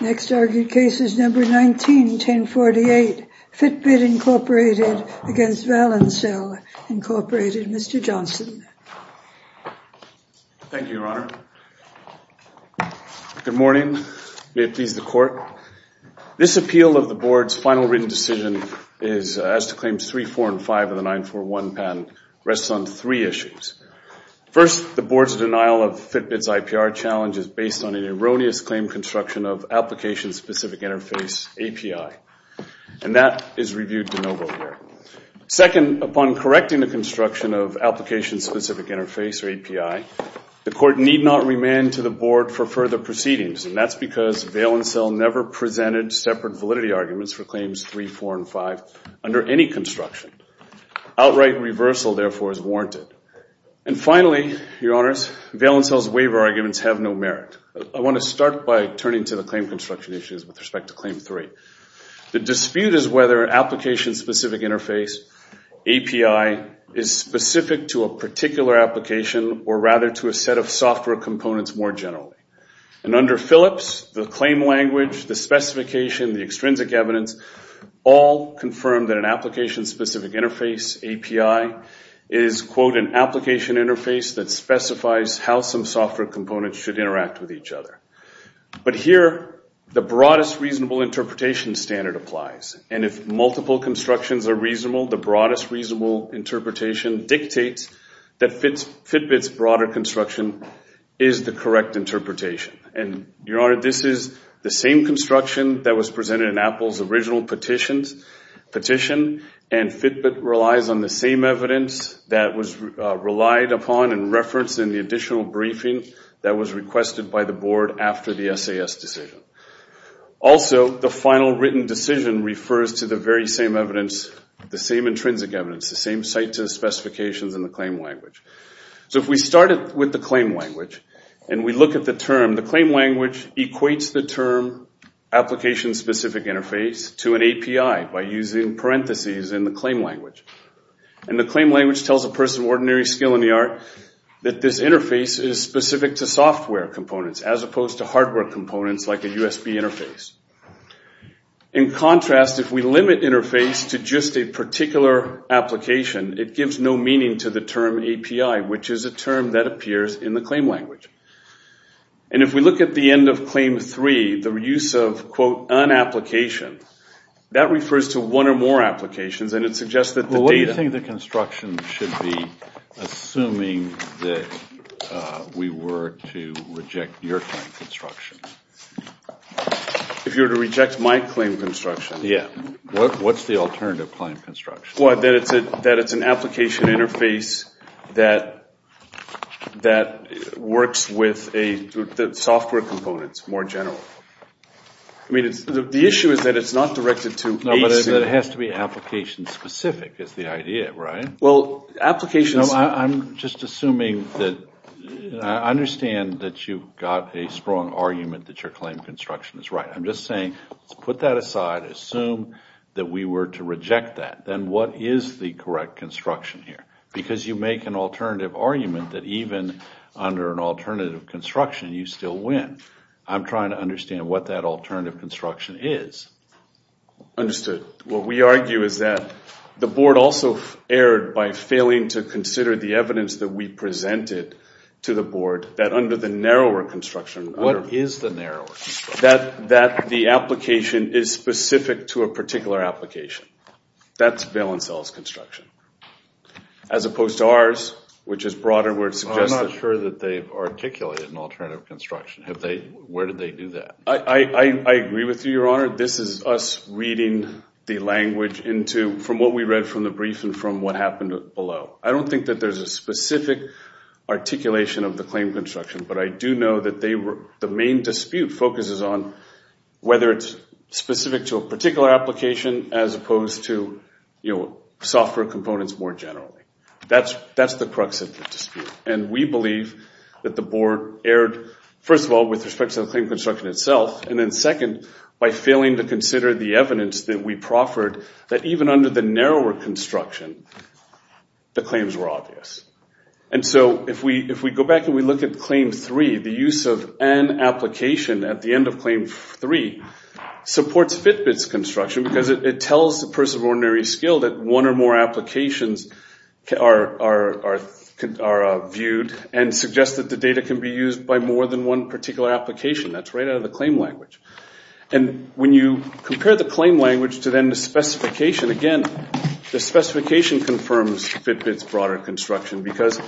Next argued case is number 19-1048, Fitbit Incorporated against Valencel Incorporated. Mr. Johnson. Thank you, Your Honor. Good morning. May it please the Court. This appeal of the Board's final written decision as to claims 3, 4, and 5 of the 9-4-1 patent rests on three issues. First, the Board's denial of Fitbit's IPR challenge is based on an erroneous claim construction of application-specific interface, API. And that is reviewed de novo here. Second, upon correcting the construction of application-specific interface, or API, the Court need not remand to the Board for further proceedings. And that's because Valencel never presented separate validity arguments for claims 3, 4, and 5 under any construction. Outright reversal, therefore, is warranted. And finally, Your Honors, Valencel's waiver arguments have no merit. I want to start by turning to the claim construction issues with respect to claim 3. The dispute is whether application-specific interface, API, is specific to a particular application or rather to a set of software components more generally. And under Phillips, the claim language, the specification, the extrinsic evidence, all confirm that an application-specific interface, API, is, quote, an application interface that specifies how some software components should interact with each other. But here, the broadest reasonable interpretation standard applies. And if multiple constructions are reasonable, the broadest reasonable interpretation dictates that Fitbit's broader construction is the correct interpretation. And, Your Honor, this is the same construction that was presented in Apple's original petition. And Fitbit relies on the same evidence that was relied upon and referenced in the additional briefing that was requested by the Board after the SAS decision. Also, the final written decision refers to the very same evidence, the same intrinsic evidence, the same site-to-specifications in the claim language. So if we started with the claim language and we look at the term, the claim language equates the term application-specific interface to an API by using parentheses in the claim language. And the claim language tells a person of ordinary skill in the art that this interface is specific to software components as opposed to hardware components like a USB interface. In contrast, if we limit interface to just a particular application, it gives no meaning to the term API, which is a term that appears in the claim language. And if we look at the end of Claim 3, the use of, quote, unapplication, that refers to one or more applications, and it suggests that the data... Well, what do you think the construction should be, assuming that we were to reject your claim construction? If you were to reject my claim construction? Yeah. What's the alternative claim construction? That it's an application interface that works with the software components more generally. I mean, the issue is that it's not directed to... No, but it has to be application-specific is the idea, right? Well, applications... I'm just assuming that... I understand that you've got a strong argument that your claim construction is right. I'm just saying, let's put that aside, assume that we were to reject that. Then what is the correct construction here? Because you make an alternative argument that even under an alternative construction, you still win. I'm trying to understand what that alternative construction is. Understood. What we argue is that the board also erred by failing to consider the evidence that we presented to the board that under the narrower construction... What is the narrower construction? That the application is specific to a particular application. That's bail and sales construction. As opposed to ours, which is broader where it suggests... I'm not sure that they've articulated an alternative construction. Where did they do that? I agree with you, Your Honor. This is us reading the language from what we read from the brief and from what happened below. I don't think that there's a specific articulation of the claim construction, but I do know that the main dispute focuses on whether it's specific to a particular application as opposed to software components more generally. That's the crux of the dispute. We believe that the board erred, first of all, with respect to the claim construction itself, and then second, by failing to consider the evidence that we proffered that even under the narrower construction, the claims were obvious. If we go back and we look at Claim 3, the use of an application at the end of Claim 3 supports Fitbit's construction because it tells the person of ordinary skill that one or more applications are viewed and suggests that the data can be used by more than one particular application. That's right out of the claim language. When you compare the claim language to then the specification, again, the specification confirms Fitbit's broader construction because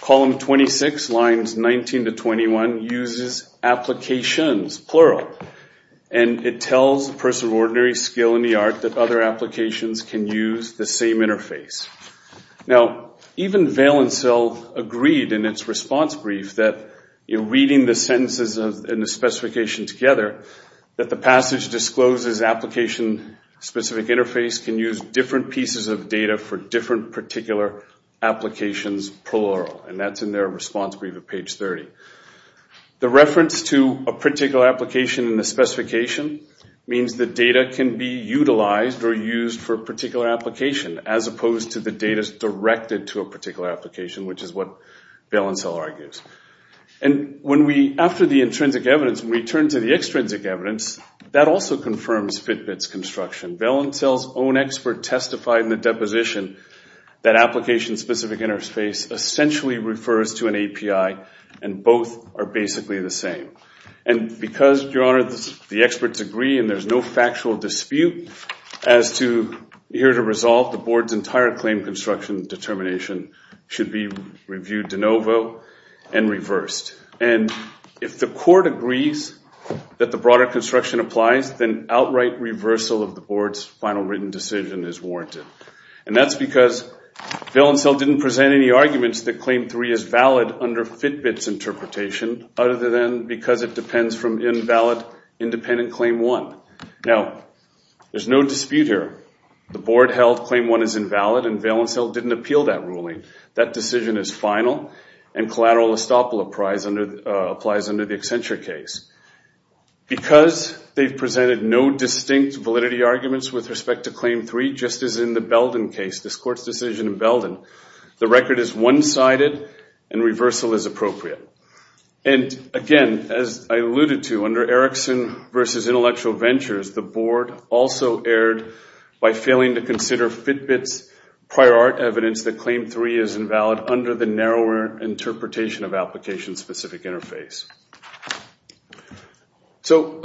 Column 26, Lines 19 to 21, uses applications, plural, and it tells the person of ordinary skill in the art that other applications can use the same interface. Now, even Valencell agreed in its response brief that in reading the sentences in the specification together, that the passage discloses application-specific interface can use different pieces of data for different particular applications, plural, and that's in their response brief at page 30. The reference to a particular application in the specification means the data can be utilized or used for a particular application as opposed to the data's directed to a particular application, which is what Valencell argues. After the intrinsic evidence, when we turn to the extrinsic evidence, that also confirms Fitbit's construction. Valencell's own expert testified in the deposition that application-specific interface essentially refers to an API and both are basically the same. And because, Your Honor, the experts agree and there's no factual dispute as to here to resolve the Board's entire claim construction determination should be reviewed de novo and reversed. And if the Court agrees that the broader construction applies, then outright reversal of the Board's final written decision is warranted. And that's because Valencell didn't present any arguments that Claim 3 is valid under Fitbit's interpretation other than because it depends from invalid independent Claim 1. Now, there's no dispute here. The Board held Claim 1 is invalid and Valencell didn't appeal that ruling. That decision is final and collateral estoppel applies under the Accenture case. Because they've presented no distinct validity arguments with respect to Claim 3, just as in the Belden case, this Court's decision in Belden, the record is one-sided and reversal is appropriate. And again, as I alluded to, under Erickson v. Intellectual Ventures, the Board also erred by failing to consider Fitbit's prior art evidence that Claim 3 is invalid under the narrower interpretation of application-specific interface. So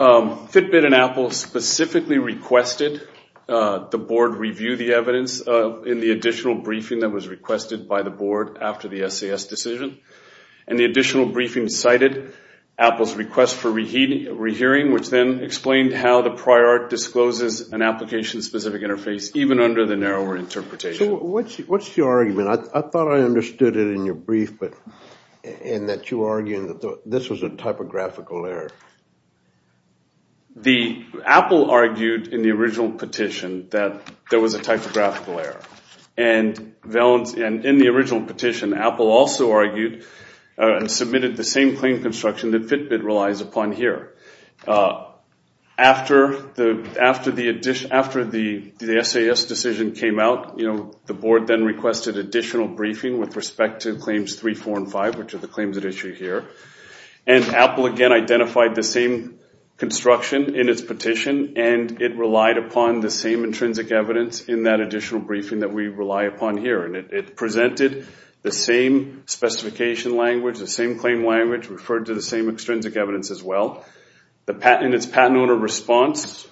Fitbit and Apple specifically requested the Board review the evidence in the additional briefing that was requested by the Board after the SAS decision. And the additional briefing cited Apple's request for rehearing, which then explained how the prior art discloses an application-specific interface, even under the narrower interpretation. So what's your argument? I thought I understood it in your brief, and that you were arguing that this was a typographical error. Apple argued in the original petition that there was a typographical error. And in the original petition, Apple also argued and submitted the same claim construction that Fitbit relies upon here. After the SAS decision came out, the Board then requested additional briefing with respect to Claims 3, 4, and 5, which are the claims at issue here. And Apple again identified the same construction in its petition, and it relied upon the same intrinsic evidence in that additional briefing that we rely upon here. And it presented the same specification language, the same claim language, referred to the same extrinsic evidence as well. In its patent owner response,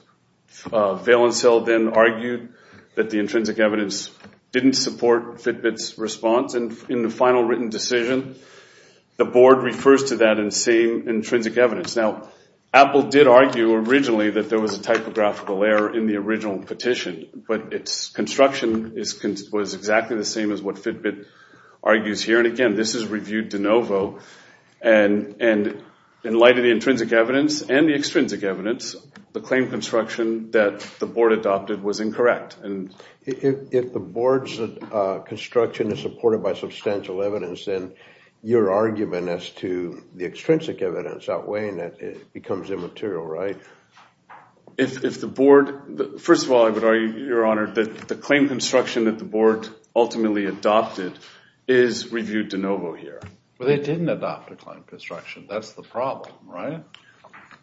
Valencille then argued that the intrinsic evidence didn't support Fitbit's response. In the final written decision, the Board refers to that same intrinsic evidence. Now, Apple did argue originally that there was a typographical error in the original petition, but its construction was exactly the same as what Fitbit argues here. And again, this is reviewed de novo. And in light of the intrinsic evidence and the extrinsic evidence, the claim construction that the Board adopted was incorrect. If the Board's construction is supported by substantial evidence, then your argument as to the extrinsic evidence outweighing it becomes immaterial, right? If the Board – first of all, I would argue, Your Honor, that the claim construction that the Board ultimately adopted is reviewed de novo here. But they didn't adopt a claim construction. That's the problem, right?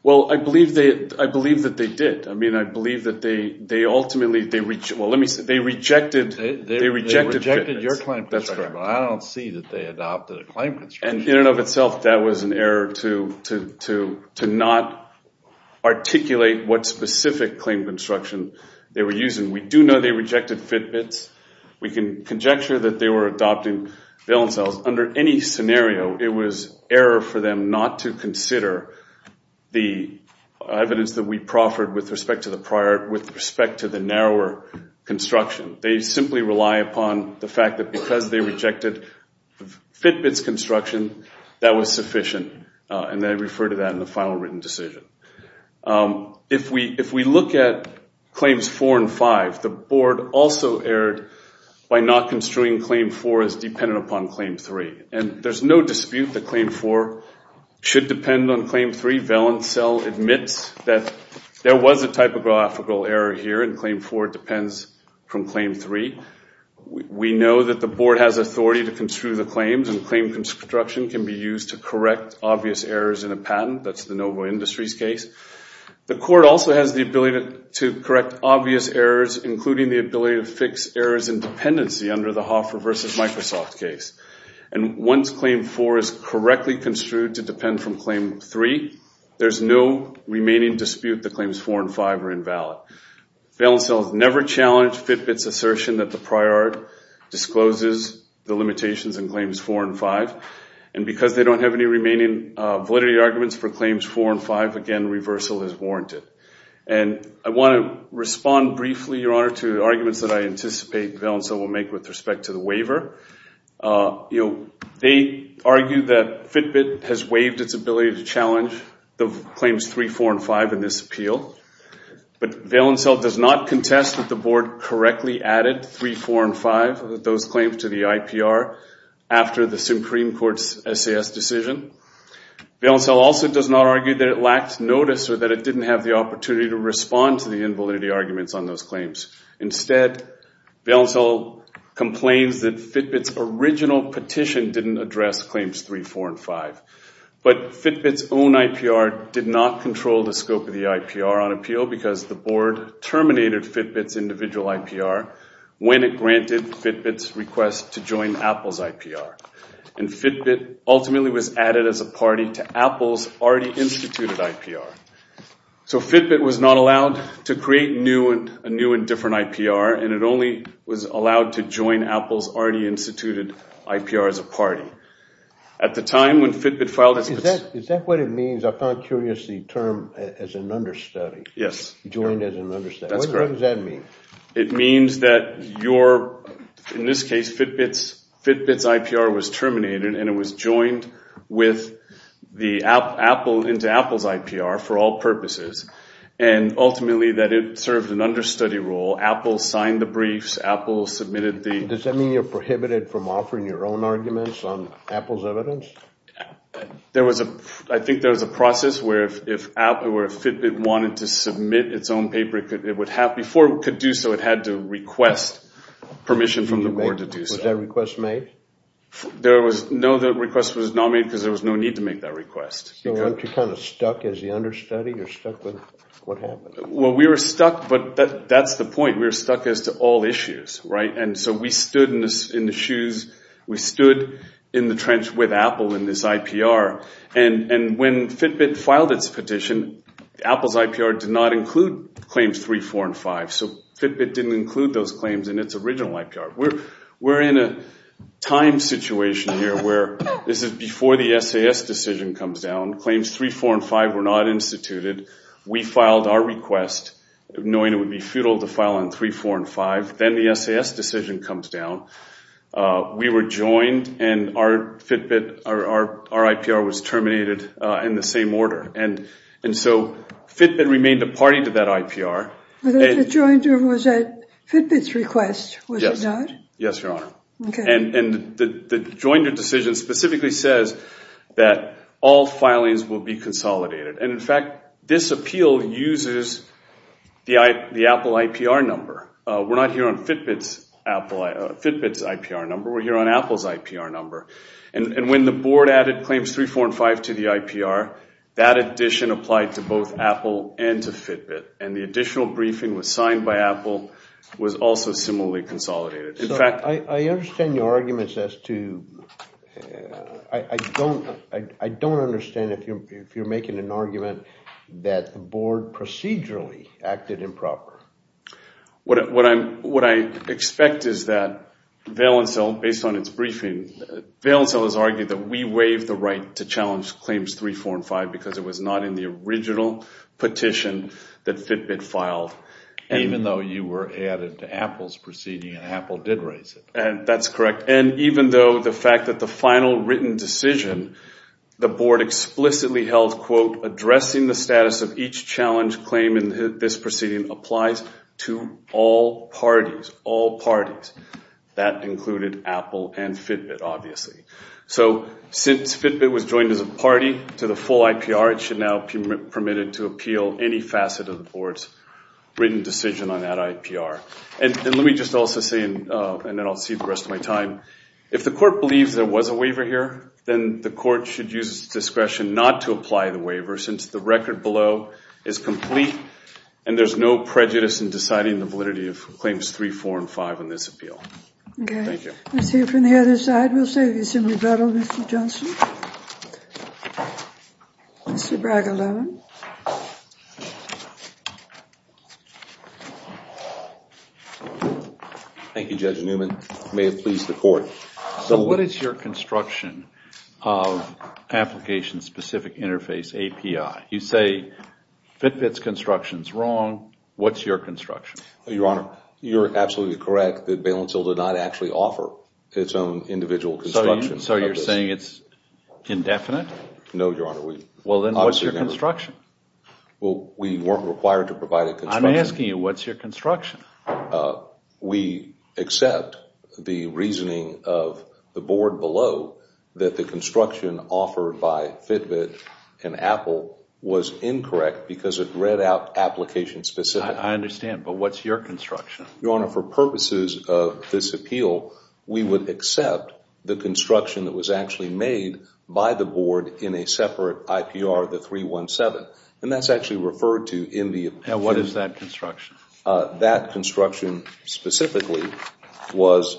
Well, I believe that they did. I mean, I believe that they ultimately – well, let me – they rejected Fitbit's. They rejected your claim construction, but I don't see that they adopted a claim construction. And in and of itself, that was an error to not articulate what specific claim construction they were using. We do know they rejected Fitbit's. We can conjecture that they were adopting valence cells. Under any scenario, it was error for them not to consider the evidence that we proffered with respect to the prior – with respect to the narrower construction. They simply rely upon the fact that because they rejected Fitbit's construction, that was sufficient, and they refer to that in the final written decision. If we look at Claims 4 and 5, the Board also erred by not construing Claim 4 as dependent upon Claim 3. And there's no dispute that Claim 4 should depend on Claim 3. Valence cell admits that there was a typographical error here, and Claim 4 depends from Claim 3. We know that the Board has authority to construe the claims, and claim construction can be used to correct obvious errors in a patent. That's the Novo Industries case. The Court also has the ability to correct obvious errors, including the ability to fix errors in dependency under the Hoffer v. Microsoft case. And once Claim 4 is correctly construed to depend from Claim 3, there's no remaining dispute that Claims 4 and 5 are invalid. Valence cells never challenge Fitbit's assertion that the prior discloses the limitations in Claims 4 and 5. And because they don't have any remaining validity arguments for Claims 4 and 5, again, reversal is warranted. And I want to respond briefly, Your Honor, to arguments that I anticipate Valence cell will make with respect to the waiver. They argue that Fitbit has waived its ability to challenge the Claims 3, 4, and 5 in this appeal. But Valence cell does not contest that the Board correctly added Claims 3, 4, and 5 to the IPR after the Supreme Court's SAS decision. Valence cell also does not argue that it lacked notice or that it didn't have the opportunity to respond to the invalidity arguments on those claims. Instead, Valence cell complains that Fitbit's original petition didn't address Claims 3, 4, and 5. But Fitbit's own IPR did not control the scope of the IPR on appeal because the Board terminated Fitbit's individual IPR when it granted Fitbit's request to join Apple's IPR. And Fitbit ultimately was added as a party to Apple's already instituted IPR. So Fitbit was not allowed to create a new and different IPR, and it only was allowed to join Apple's already instituted IPR as a party. At the time when Fitbit filed its petition... Is that what it means? I found curious the term as an understudy. Yes. Joined as an understudy. That's correct. What does that mean? It means that your, in this case Fitbit's, Fitbit's IPR was terminated and it was joined with the Apple, into Apple's IPR for all purposes. And ultimately that it served an understudy role. Apple signed the briefs. Apple submitted the... Apple's evidence? There was a, I think there was a process where if Apple or if Fitbit wanted to submit its own paper, it would have, before it could do so, it had to request permission from the Board to do so. Was that request made? There was no, that request was not made because there was no need to make that request. So weren't you kind of stuck as the understudy? You're stuck with what happened? Well, we were stuck, but that's the point. We were stuck as to all issues, right? And so we stood in the shoes, we stood in the trench with Apple in this IPR. And when Fitbit filed its petition, Apple's IPR did not include claims 3, 4, and 5. So Fitbit didn't include those claims in its original IPR. We're in a time situation here where this is before the SAS decision comes down. Claims 3, 4, and 5 were not instituted. We filed our request, knowing it would be futile to file on 3, 4, and 5. Then the SAS decision comes down. We were joined, and our Fitbit, our IPR was terminated in the same order. And so Fitbit remained a party to that IPR. The joinder was at Fitbit's request, was it not? Yes, Your Honor. Okay. And the joinder decision specifically says that all filings will be consolidated. And, in fact, this appeal uses the Apple IPR number. We're not here on Fitbit's IPR number. We're here on Apple's IPR number. And when the board added claims 3, 4, and 5 to the IPR, that addition applied to both Apple and to Fitbit. And the additional briefing was signed by Apple, was also similarly consolidated. I understand your arguments as to – I don't understand if you're making an argument that the board procedurally acted improper. What I expect is that Valencel, based on its briefing, Valencel has argued that we waived the right to challenge claims 3, 4, and 5 because it was not in the original petition that Fitbit filed. Even though you were added to Apple's proceeding and Apple did raise it. That's correct. And even though the fact that the final written decision, the board explicitly held, quote, addressing the status of each challenge claim in this proceeding applies to all parties. All parties. That included Apple and Fitbit, obviously. So since Fitbit was joined as a party to the full IPR, it should now be permitted to appeal any facet of the board's written decision on that IPR. And let me just also say, and then I'll see the rest of my time, if the court believes there was a waiver here, then the court should use its discretion not to apply the waiver since the record below is complete and there's no prejudice in deciding the validity of claims 3, 4, and 5 in this appeal. Okay. Thank you. Let's hear from the other side. I will say this in rebuttal, Mr. Johnson. Mr. Bragg, 11. Thank you, Judge Newman. May it please the court. So what is your construction of application-specific interface, API? You say Fitbit's construction is wrong. What's your construction? Your Honor, you're absolutely correct that Bailenfield did not actually offer its own individual construction. So you're saying it's indefinite? No, Your Honor. Well, then what's your construction? Well, we weren't required to provide a construction. I'm asking you, what's your construction? We accept the reasoning of the board below that the construction offered by Fitbit and Apple was incorrect because it read out application-specific. I understand. But what's your construction? Your Honor, for purposes of this appeal, we would accept the construction that was actually made by the board in a separate IPR, the 317. And that's actually referred to in the appeal. And what is that construction? That construction specifically was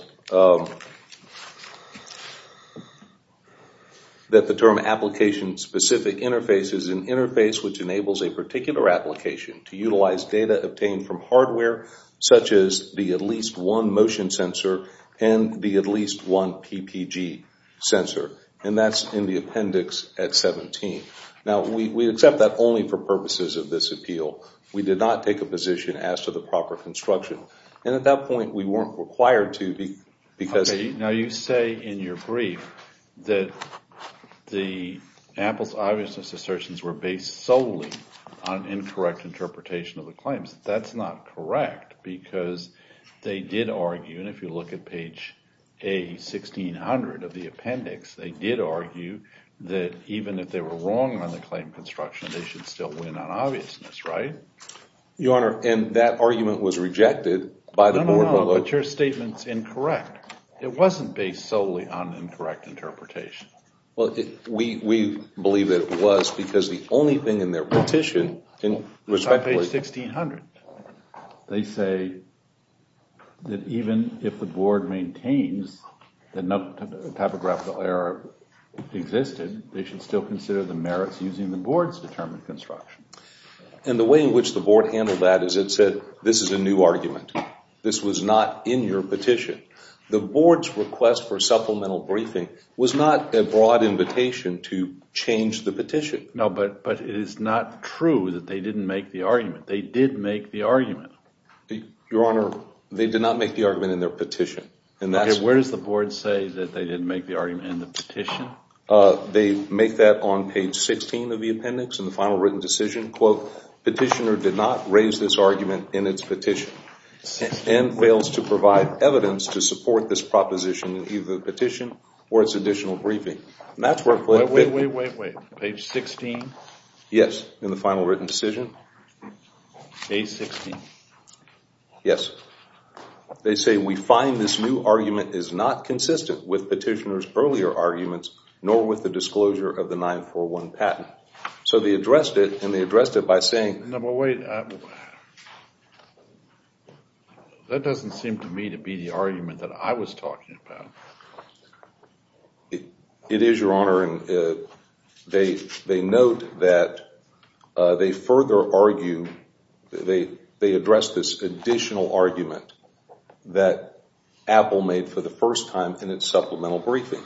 that the term application-specific interface is an interface which enables a particular application to utilize data obtained from hardware, such as the at least one motion sensor and the at least one PPG sensor. And that's in the appendix at 17. Now, we accept that only for purposes of this appeal. We did not take a position as to the proper construction. And at that point, we weren't required to because— on incorrect interpretation of the claims. That's not correct because they did argue, and if you look at page A1600 of the appendix, they did argue that even if they were wrong on the claim construction, they should still win on obviousness, right? Your Honor, and that argument was rejected by the board below. No, no, no, but your statement's incorrect. It wasn't based solely on incorrect interpretation. Well, we believe that it was because the only thing in their petition— It's on page 1600. They say that even if the board maintains that no typographical error existed, they should still consider the merits using the board's determined construction. And the way in which the board handled that is it said, this is a new argument. This was not in your petition. The board's request for supplemental briefing was not a broad invitation to change the petition. No, but it is not true that they didn't make the argument. They did make the argument. Your Honor, they did not make the argument in their petition. Okay, where does the board say that they didn't make the argument in the petition? They make that on page 16 of the appendix in the final written decision. Petitioner did not raise this argument in its petition and fails to provide evidence to support this proposition in either the petition or its additional briefing. Wait, wait, wait, wait. Page 16? Yes, in the final written decision. Page 16? Yes. They say we find this new argument is not consistent with petitioner's earlier arguments nor with the disclosure of the 941 patent. So they addressed it and they addressed it by saying— No, but wait. That doesn't seem to me to be the argument that I was talking about. It is, Your Honor, and they note that they further argue— they address this additional argument that Apple made for the first time in its supplemental briefing.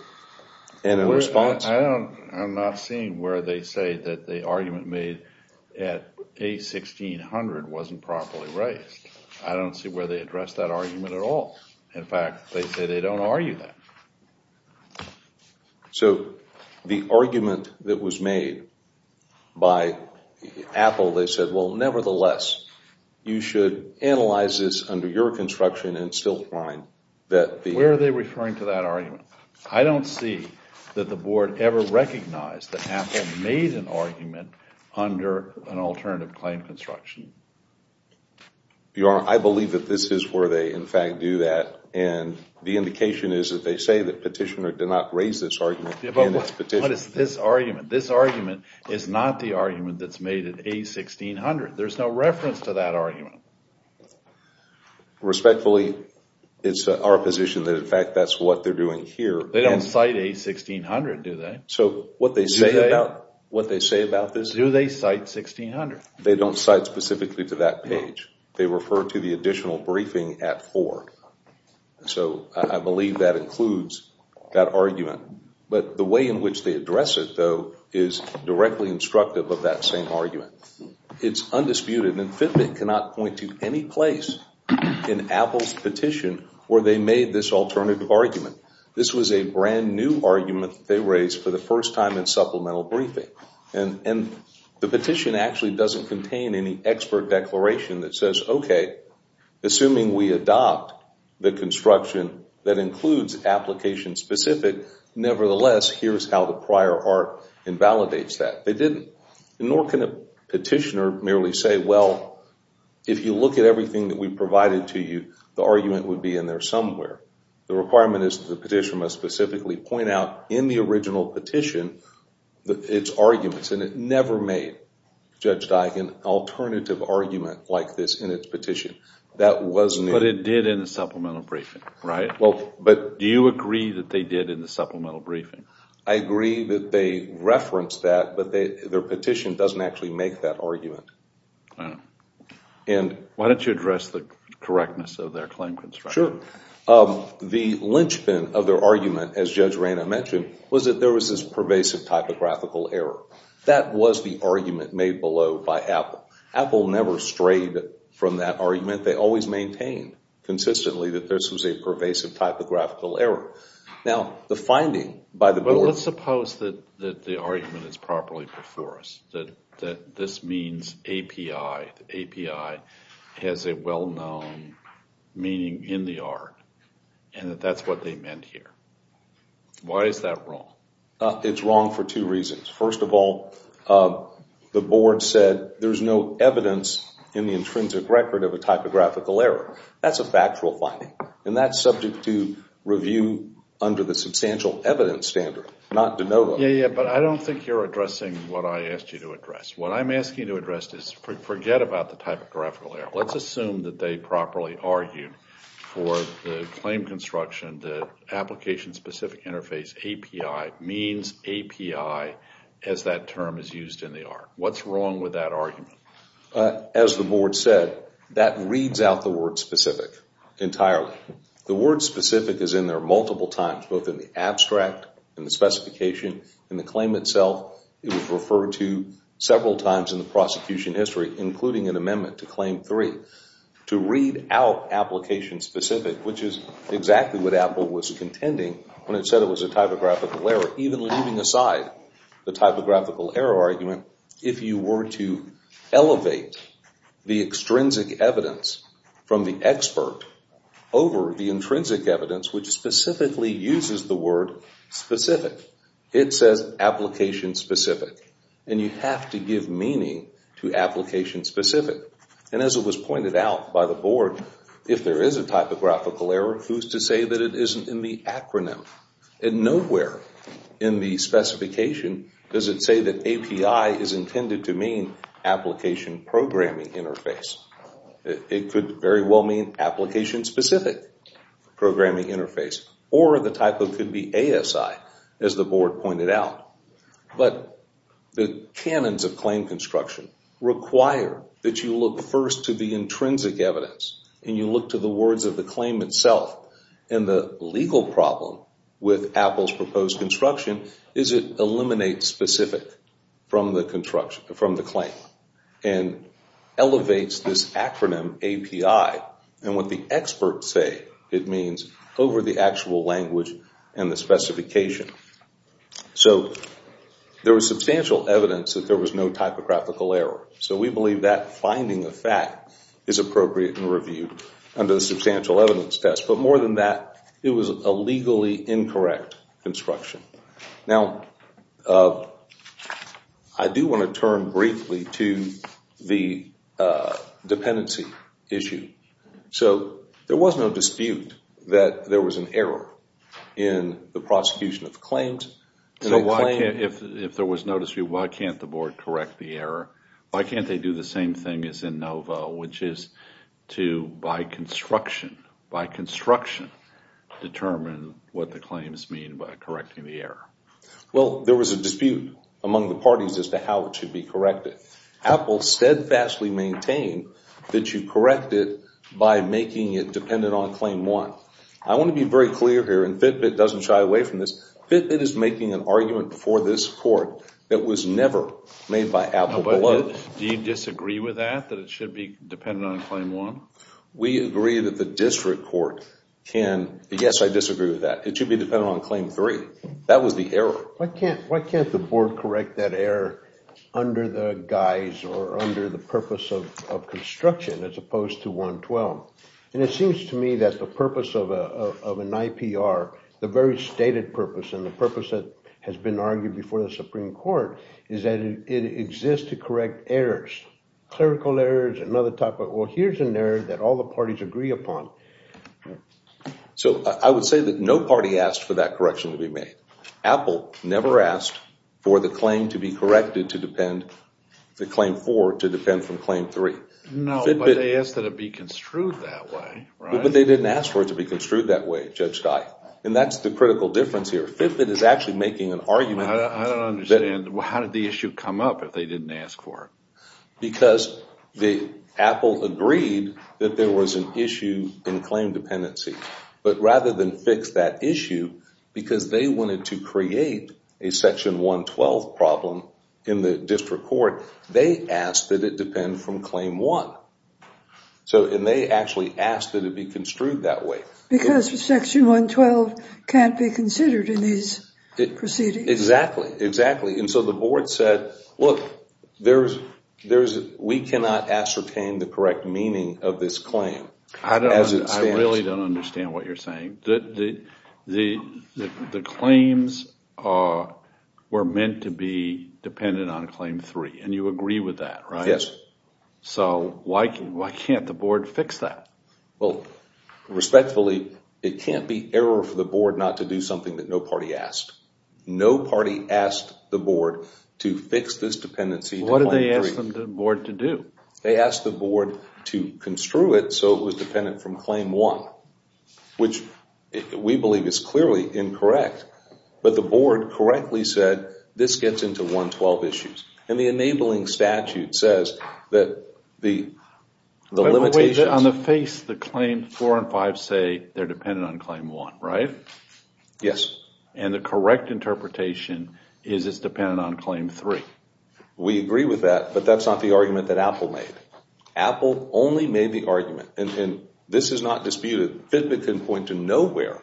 And in response— I'm not seeing where they say that the argument made at page 1600 wasn't properly raised. I don't see where they addressed that argument at all. In fact, they say they don't argue that. So the argument that was made by Apple, they said, well, nevertheless, you should analyze this under your construction and still find that the— Where are they referring to that argument? I don't see that the Board ever recognized that Apple made an argument under an alternative claim construction. Your Honor, I believe that this is where they, in fact, do that. And the indication is that they say that petitioner did not raise this argument in its petition. But what is this argument? This argument is not the argument that's made at A1600. There's no reference to that argument. Respectfully, it's our position that, in fact, that's what they're doing here. They don't cite A1600, do they? So what they say about this— Do they cite 1600? They don't cite specifically to that page. They refer to the additional briefing at 4. So I believe that includes that argument. But the way in which they address it, though, is directly instructive of that same argument. It's undisputed. And Fitbit cannot point to any place in Apple's petition where they made this alternative argument. This was a brand-new argument that they raised for the first time in supplemental briefing. And the petition actually doesn't contain any expert declaration that says, okay, assuming we adopt the construction that includes application-specific, nevertheless, here's how the prior art invalidates that. They didn't. Nor can a petitioner merely say, well, if you look at everything that we've provided to you, the argument would be in there somewhere. The requirement is that the petition must specifically point out in the original petition its arguments. And it never made, Judge Diken, an alternative argument like this in its petition. That was new. But it did in the supplemental briefing, right? Well, but— Do you agree that they did in the supplemental briefing? I agree that they referenced that, but their petition doesn't actually make that argument. Oh. And— Why don't you address the correctness of their claim construction? Sure. The linchpin of their argument, as Judge Rayna mentioned, was that there was this pervasive typographical error. That was the argument made below by Apple. Apple never strayed from that argument. They always maintained consistently that this was a pervasive typographical error. Now, the finding by the board— But let's suppose that the argument is properly before us, that this means API. API has a well-known meaning in the art and that that's what they meant here. Why is that wrong? It's wrong for two reasons. First of all, the board said there's no evidence in the intrinsic record of a typographical error. That's a factual finding. And that's subject to review under the substantial evidence standard, not de novo. Yeah, yeah, but I don't think you're addressing what I asked you to address. What I'm asking you to address is forget about the typographical error. Let's assume that they properly argued for the claim construction, the application-specific interface, API, means API as that term is used in the art. What's wrong with that argument? As the board said, that reads out the word specific entirely. The word specific is in there multiple times, both in the abstract, in the specification, in the claim itself. It was referred to several times in the prosecution history, including an amendment to Claim 3. To read out application specific, which is exactly what Apple was contending when it said it was a typographical error, or even leaving aside the typographical error argument, if you were to elevate the extrinsic evidence from the expert over the intrinsic evidence, which specifically uses the word specific, it says application specific. And you have to give meaning to application specific. And as it was pointed out by the board, if there is a typographical error, and nowhere in the specification does it say that API is intended to mean application programming interface. It could very well mean application-specific programming interface, or the typo could be ASI, as the board pointed out. But the canons of claim construction require that you look first to the intrinsic evidence, and you look to the words of the claim itself. And the legal problem with Apple's proposed construction is it eliminates specific from the claim and elevates this acronym API and what the experts say it means over the actual language and the specification. So there was substantial evidence that there was no typographical error. So we believe that finding of fact is appropriate and reviewed under the substantial evidence test. But more than that, it was a legally incorrect construction. Now, I do want to turn briefly to the dependency issue. So there was no dispute that there was an error in the prosecution of claims. So if there was no dispute, why can't the board correct the error? Why can't they do the same thing as in NOVO, which is to, by construction, determine what the claims mean by correcting the error? Well, there was a dispute among the parties as to how it should be corrected. Apple steadfastly maintained that you correct it by making it dependent on claim one. I want to be very clear here, and Fitbit doesn't shy away from this. Fitbit is making an argument before this court that was never made by Apple below. Do you disagree with that, that it should be dependent on claim one? We agree that the district court can, yes, I disagree with that. It should be dependent on claim three. That was the error. Why can't the board correct that error under the guise or under the purpose of construction as opposed to 112? And it seems to me that the purpose of an IPR, the very stated purpose, and the purpose that has been argued before the Supreme Court, is that it exists to correct errors. Clerical errors, another type of, well, here's an error that all the parties agree upon. So I would say that no party asked for that correction to be made. Apple never asked for the claim to be corrected to depend, the claim four to depend from claim three. No, but they asked that it be construed that way, right? But they didn't ask for it to be construed that way, Judge Steiff. And that's the critical difference here. Fitbit is actually making an argument. I don't understand. How did the issue come up if they didn't ask for it? Because the Apple agreed that there was an issue in claim dependency. But rather than fix that issue, because they wanted to create a section 112 problem in the district court, they asked that it depend from claim one. And they actually asked that it be construed that way. Because section 112 can't be considered in these proceedings. Exactly, exactly. And so the board said, look, we cannot ascertain the correct meaning of this claim. I really don't understand what you're saying. The claims were meant to be dependent on claim three, and you agree with that, right? Yes. So why can't the board fix that? Well, respectfully, it can't be error for the board not to do something that no party asked. No party asked the board to fix this dependency to claim three. What did they ask the board to do? They asked the board to construe it so it was dependent from claim one, which we believe is clearly incorrect. But the board correctly said this gets into 112 issues. And the enabling statute says that the limitations— On the face, the claims four and five say they're dependent on claim one, right? Yes. And the correct interpretation is it's dependent on claim three. We agree with that, but that's not the argument that Apple made. Apple only made the argument, and this is not disputed. Fitbit couldn't point to nowhere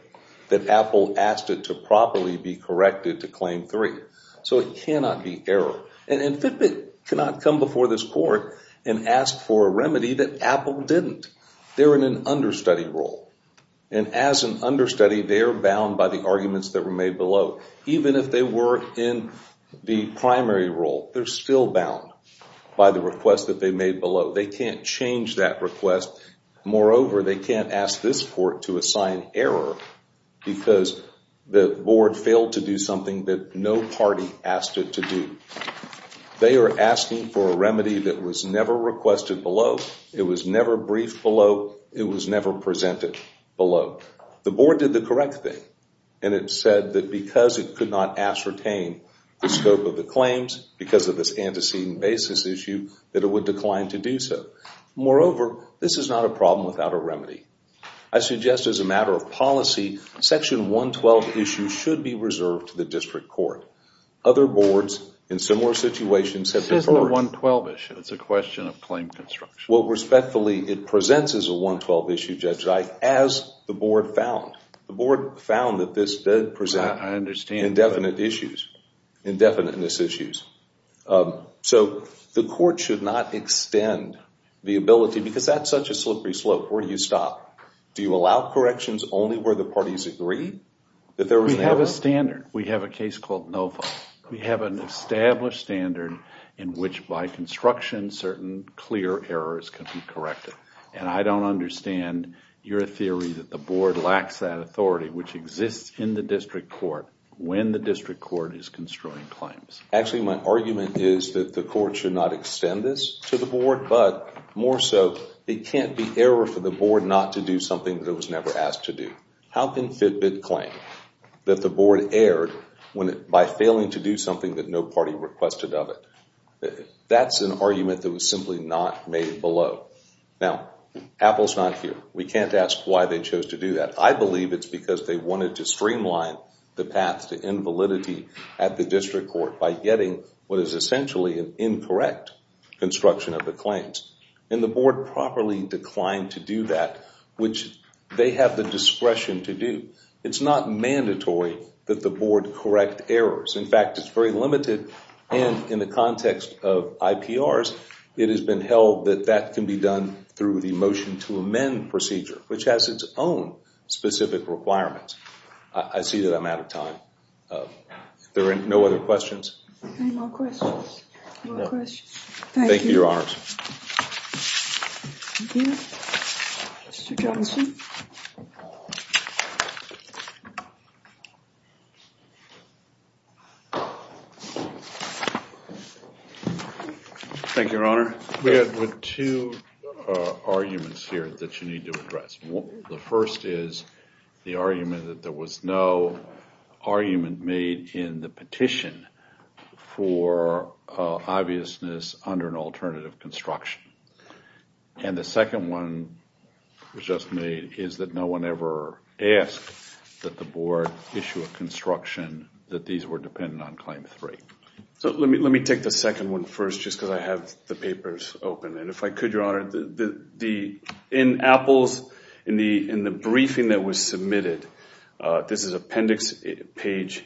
that Apple asked it to properly be corrected to claim three. So it cannot be error. And Fitbit cannot come before this court and ask for a remedy that Apple didn't. They're in an understudy role. And as an understudy, they are bound by the arguments that were made below. Even if they were in the primary role, they're still bound by the request that they made below. They can't change that request. Moreover, they can't ask this court to assign error because the board failed to do something that no party asked it to do. They are asking for a remedy that was never requested below. It was never briefed below. It was never presented below. The board did the correct thing. And it said that because it could not ascertain the scope of the claims because of this antecedent basis issue, that it would decline to do so. Moreover, this is not a problem without a remedy. I suggest as a matter of policy, Section 112 issues should be reserved to the district court. Other boards in similar situations have deferred. This isn't a 112 issue. It's a question of claim construction. Well, respectfully, it presents as a 112 issue, Judge Zeick, as the board found. The board found that this did present indefinite issues, indefiniteness issues. So the court should not extend the ability because that's such a slippery slope. Where do you stop? Do you allow corrections only where the parties agree that there was an error? We have a standard. We have a case called NOFA. We have an established standard in which by construction certain clear errors can be corrected. And I don't understand your theory that the board lacks that authority, which exists in the district court when the district court is construing claims. Actually, my argument is that the court should not extend this to the board, but more so it can't be error for the board not to do something that it was never asked to do. How can Fitbit claim that the board erred by failing to do something that no party requested of it? That's an argument that was simply not made below. Now, Apple's not here. We can't ask why they chose to do that. I believe it's because they wanted to streamline the path to invalidity at the district court by getting what is essentially an incorrect construction of the claims. And the board properly declined to do that, which they have the discretion to do. It's not mandatory that the board correct errors. In fact, it's very limited. And in the context of IPRs, it has been held that that can be done through the motion to amend procedure, which has its own specific requirements. I see that I'm out of time. There are no other questions? Any more questions? No. Thank you. Thank you, Your Honors. Thank you. Mr. Johnson? Thank you, Your Honor. We have two arguments here that you need to address. The first is the argument that there was no argument made in the petition for obviousness under an alternative construction. And the second one was just made is that no one ever asked that the board issue a construction that these were dependent on Claim 3. So let me take the second one first just because I have the papers open. And if I could, Your Honor, in APPLES, in the briefing that was submitted, this is Appendix Page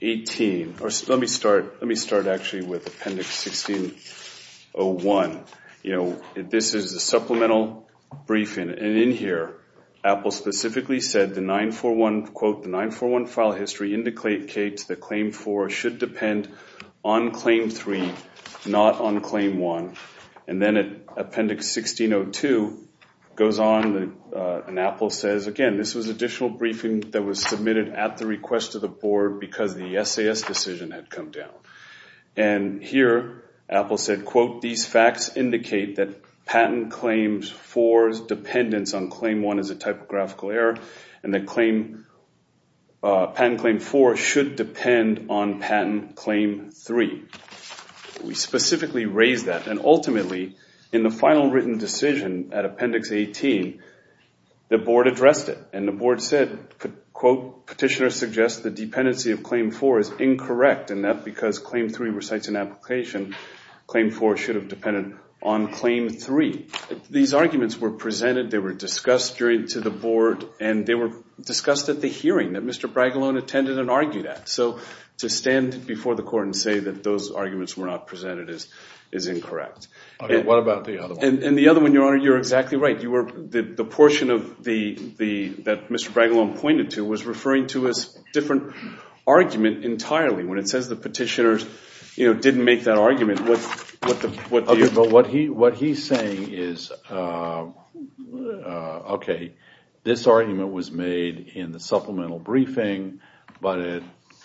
18. Let me start actually with Appendix 1601. You know, this is a supplemental briefing. And in here, APPLE specifically said the 941, quote, the 941 file history indicates that Claim 4 should depend on Claim 3, not on Claim 1. And then Appendix 1602 goes on, and APPLE says, again, this was additional briefing that was submitted at the request of the board because the SAS decision had come down. And here, APPLE said, quote, these facts indicate that Patent Claim 4's dependence on Claim 1 is a typographical error, and that Patent Claim 4 should depend on Patent Claim 3. We specifically raise that. And ultimately, in the final written decision at Appendix 18, the board addressed it. And the board said, quote, Petitioner suggests the dependency of Claim 4 is incorrect, and that because Claim 3 recites an application, Claim 4 should have depended on Claim 3. These arguments were presented, they were discussed to the board, and they were discussed at the hearing that Mr. Braggalone attended and argued at. So to stand before the court and say that those arguments were not presented is incorrect. Okay, what about the other one? And the other one, Your Honor, you're exactly right. The portion that Mr. Braggalone pointed to was referring to a different argument entirely. When it says the petitioners didn't make that argument, what the— Okay, but what he's saying is, okay, this argument was made in the supplemental briefing, but it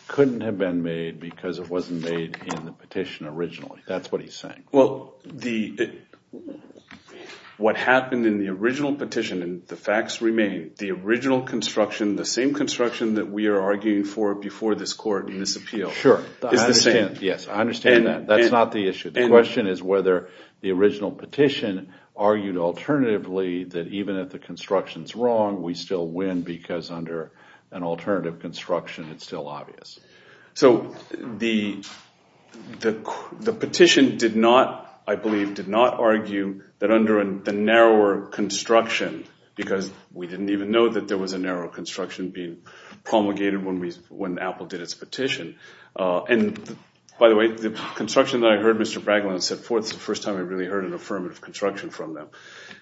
couldn't have been made because it wasn't made in the petition originally. That's what he's saying. Well, the—what happened in the original petition, and the facts remain, the original construction, the same construction that we are arguing for before this court in this appeal— Sure. —is the same. Yes, I understand that. That's not the issue. The question is whether the original petition argued alternatively that even if the construction is wrong, we still win because under an alternative construction, it's still obvious. So the petition did not, I believe, did not argue that under the narrower construction, because we didn't even know that there was a narrower construction being promulgated when Apple did its petition. And, by the way, the construction that I heard Mr. Bragglin set forth, it's the first time I really heard an affirmative construction from them.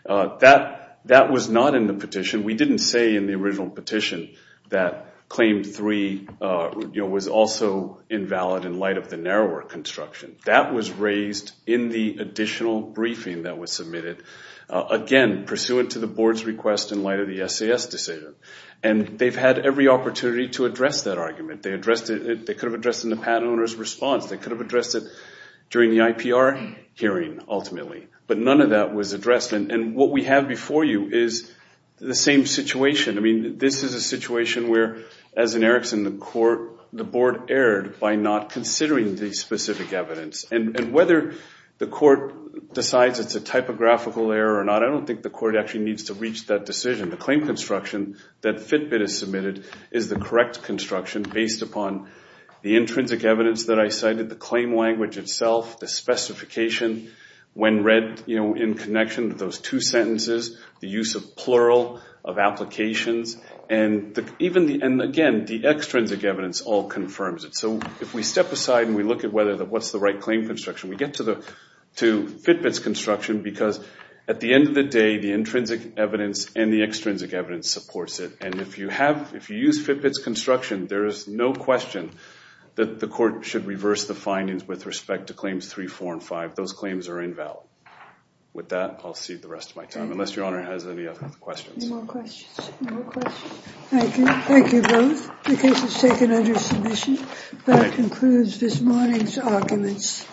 That was not in the petition. We didn't say in the original petition that Claim 3 was also invalid in light of the narrower construction. That was raised in the additional briefing that was submitted, again, pursuant to the board's request in light of the SAS decision. And they've had every opportunity to address that argument. They could have addressed it in the patent owner's response. They could have addressed it during the IPR hearing, ultimately. But none of that was addressed. And what we have before you is the same situation. I mean, this is a situation where, as in Erickson, the board erred by not considering the specific evidence. And whether the court decides it's a typographical error or not, I don't think the court actually needs to reach that decision. The claim construction that Fitbit has submitted is the correct construction based upon the intrinsic evidence that I cited, the claim language itself, the specification when read in connection to those two sentences, the use of plural, of applications, and, again, the extrinsic evidence all confirms it. So if we step aside and we look at what's the right claim construction, we get to Fitbit's construction because, at the end of the day, the intrinsic evidence and the extrinsic evidence supports it. And if you use Fitbit's construction, there is no question that the court should reverse the findings with respect to claims 3, 4, and 5. Those claims are invalid. With that, I'll cede the rest of my time, unless Your Honor has any other questions. Any more questions? Thank you. Thank you both. The case is taken under submission. That concludes this morning's arguments.